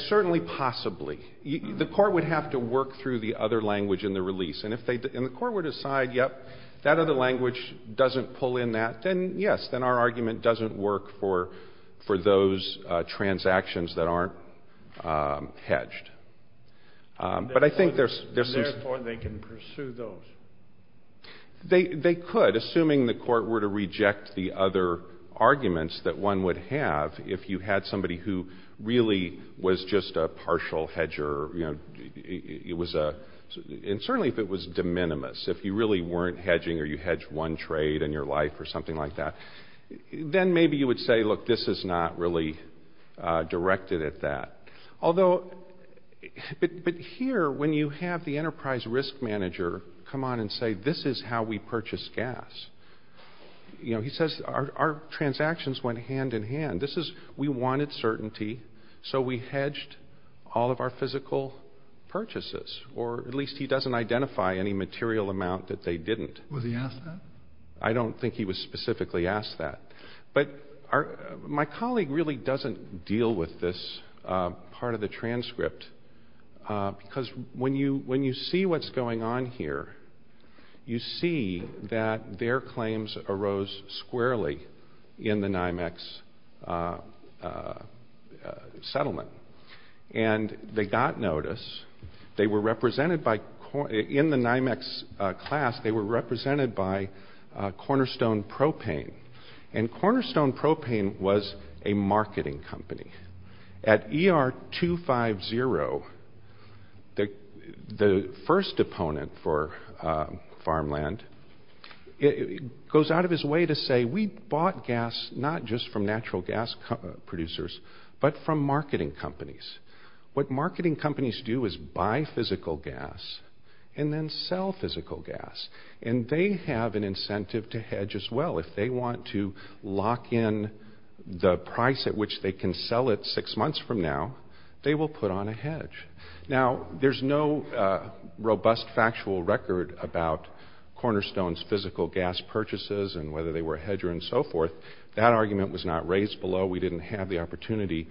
Certainly possibly. The court would have to work through the other language in the release. And if the court would decide, yep, that other language doesn't pull in that, then, yes, then our argument doesn't work for those transactions that aren't hedged. But I think there's some... Therefore, they can pursue those. They could, assuming the court were to reject the other arguments that one would have if you had somebody who really was just a partial hedger. It was a... And certainly if it was de minimis, if you really weren't hedging or you hedged one trade in your life or something like that, then maybe you would say, look, this is not really directed at that. Although... But here, when you have the enterprise risk manager come on and say, this is how we purchase gas, he says, our transactions went hand-in-hand. This is... We wanted certainty, so we hedged all of our physical purchases. Or at least he doesn't identify any material amount that they didn't. Was he asked that? I don't think he was specifically asked that. But my colleague really doesn't deal with this part of the transcript. Because when you see what's going on here, you see that their claims arose squarely in the NYMEX settlement. And they got notice. They were represented by... Cornerstone Propane was a marketing company. At ER250, the first opponent for farmland goes out of his way to say, we bought gas not just from natural gas producers, but from marketing companies. What marketing companies do is buy physical gas and then sell physical gas. And they have an incentive to hedge as well. If they want to lock in the price at which they can sell it six months from now, they will put on a hedge. Now, there's no robust factual record about Cornerstone's physical gas purchases and whether they were a hedger and so forth. That argument was not raised below. We didn't have the opportunity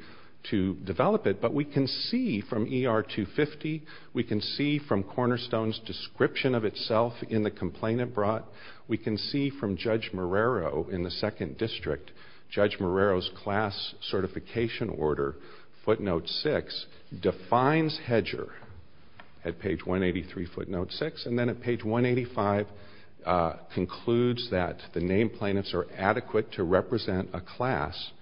to develop it. But we can see from ER250, we can see from Cornerstone's description of itself in the complaint it brought. We can see from Judge Marrero in the 2nd District. Judge Marrero's class certification order, footnote 6, defines hedger at page 183, footnote 6. And then at page 185, concludes that the named plaintiffs are adequate to represent a class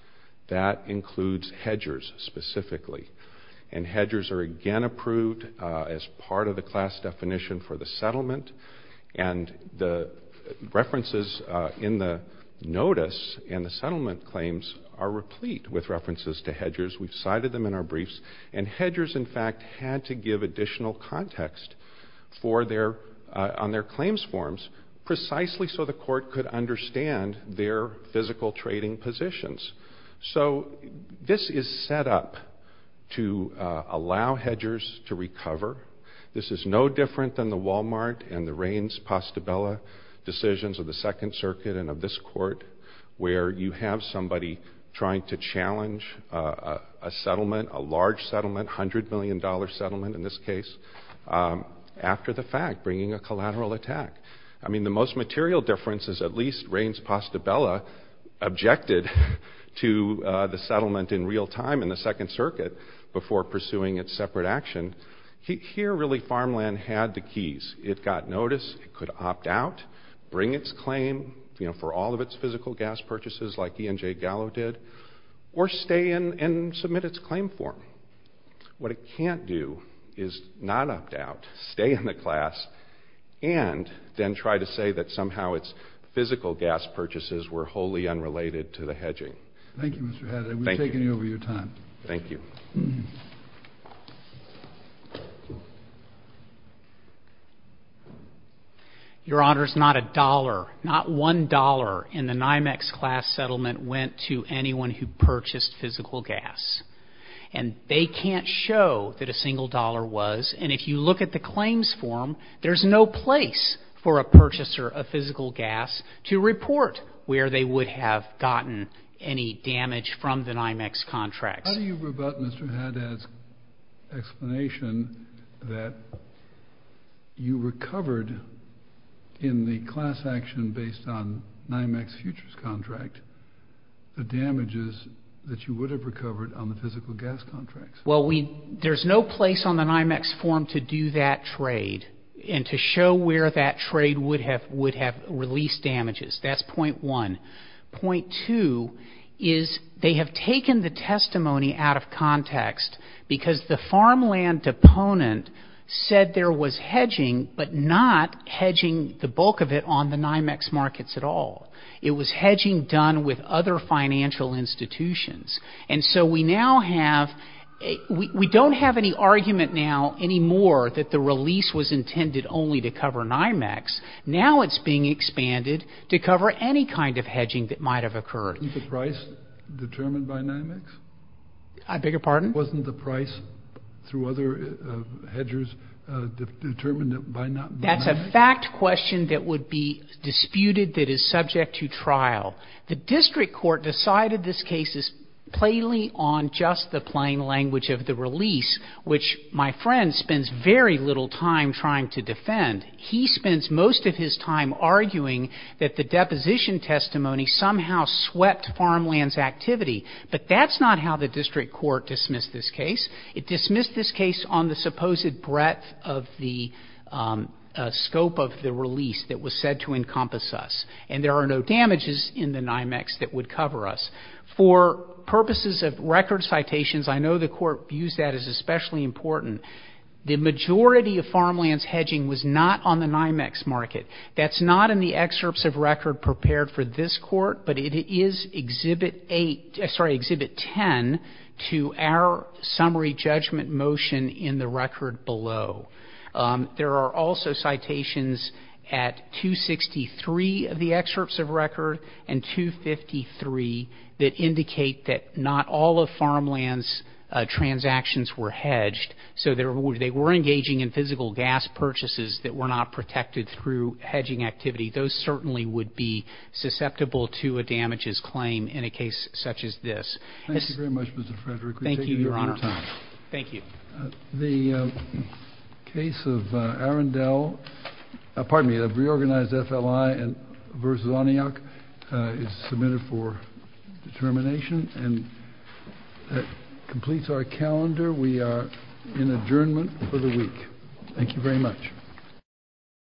that includes hedgers specifically. And hedgers are again approved as part of the class definition for the settlement. And the references in the notice and the settlement claims are replete with references to hedgers. We've cited them in our briefs. And hedgers, in fact, had to give additional context on their claims forms precisely so the court could understand their physical trading positions. So this is set up to allow hedgers to recover. This is no different than the Walmart and the Raines-Pastabella decisions of the Second Circuit and of this court, where you have somebody trying to challenge a settlement, a large settlement, $100 million settlement in this case, after the fact, bringing a collateral attack. I mean, the most material difference is at least Raines-Pastabella objected to the settlement in real time in the Second Circuit before pursuing its separate action. Here, really, Farmland had the keys. It got notice. It could opt out, bring its claim, you know, for all of its physical gas purchases like E.N.J. Gallo did, or stay in and submit its claim form. What it can't do is not opt out, stay in the class, and then try to say that somehow its physical gas purchases were wholly unrelated to the hedging. Thank you, Mr. Hadley. We've taken you over your time. Thank you. Your Honors, not a dollar, not one dollar in the NYMEX class settlement went to anyone who purchased physical gas. And they can't show that a single dollar was. And if you look at the claims form, there's no place for a purchaser of physical gas to report where they would have gotten any damage from the NYMEX contracts. How do you rebut Mr. Haddad's explanation that you recovered in the class action based on NYMEX futures contract the damages that you would have recovered on the physical gas contracts? Well, there's no place on the NYMEX form to do that trade and to show where that trade would have released damages. That's point one. Point two is they have taken the testimony out of context because the farmland deponent said there was hedging but not hedging the bulk of it on the NYMEX markets at all. It was hedging done with other financial institutions. And so we now have we don't have any argument now anymore that the release was intended only to cover NYMEX. Now it's being expanded to cover any kind of hedging that might have occurred. Was the price determined by NYMEX? I beg your pardon? Wasn't the price through other hedgers determined by not NYMEX? That's a fact question that would be disputed that is subject to trial. The district court decided this case is plainly on just the plain language of the release, which my friend spends very little time trying to defend. He spends most of his time arguing that the deposition testimony somehow swept farmland's activity. But that's not how the district court dismissed this case. It dismissed this case on the supposed breadth of the scope of the release that was said to encompass us. And there are no damages in the NYMEX that would cover us. For purposes of record citations, I know the court views that as especially important. The majority of farmland's hedging was not on the NYMEX market. That's not in the excerpts of record prepared for this court. But it is Exhibit 10 to our summary judgment motion in the record below. There are also citations at 263 of the excerpts of record and 253 that indicate that not all of farmland's transactions were hedged. So they were engaging in physical gas purchases that were not protected through hedging activity. Those certainly would be susceptible to a damages claim in a case such as this. Thank you very much, Mr. Frederick. We've taken your time. Thank you, Your Honor. Thank you. The case of Arendelle, pardon me, the reorganized FLI versus Oniok is submitted for determination. And that completes our calendar. We are in adjournment for the week. Thank you very much.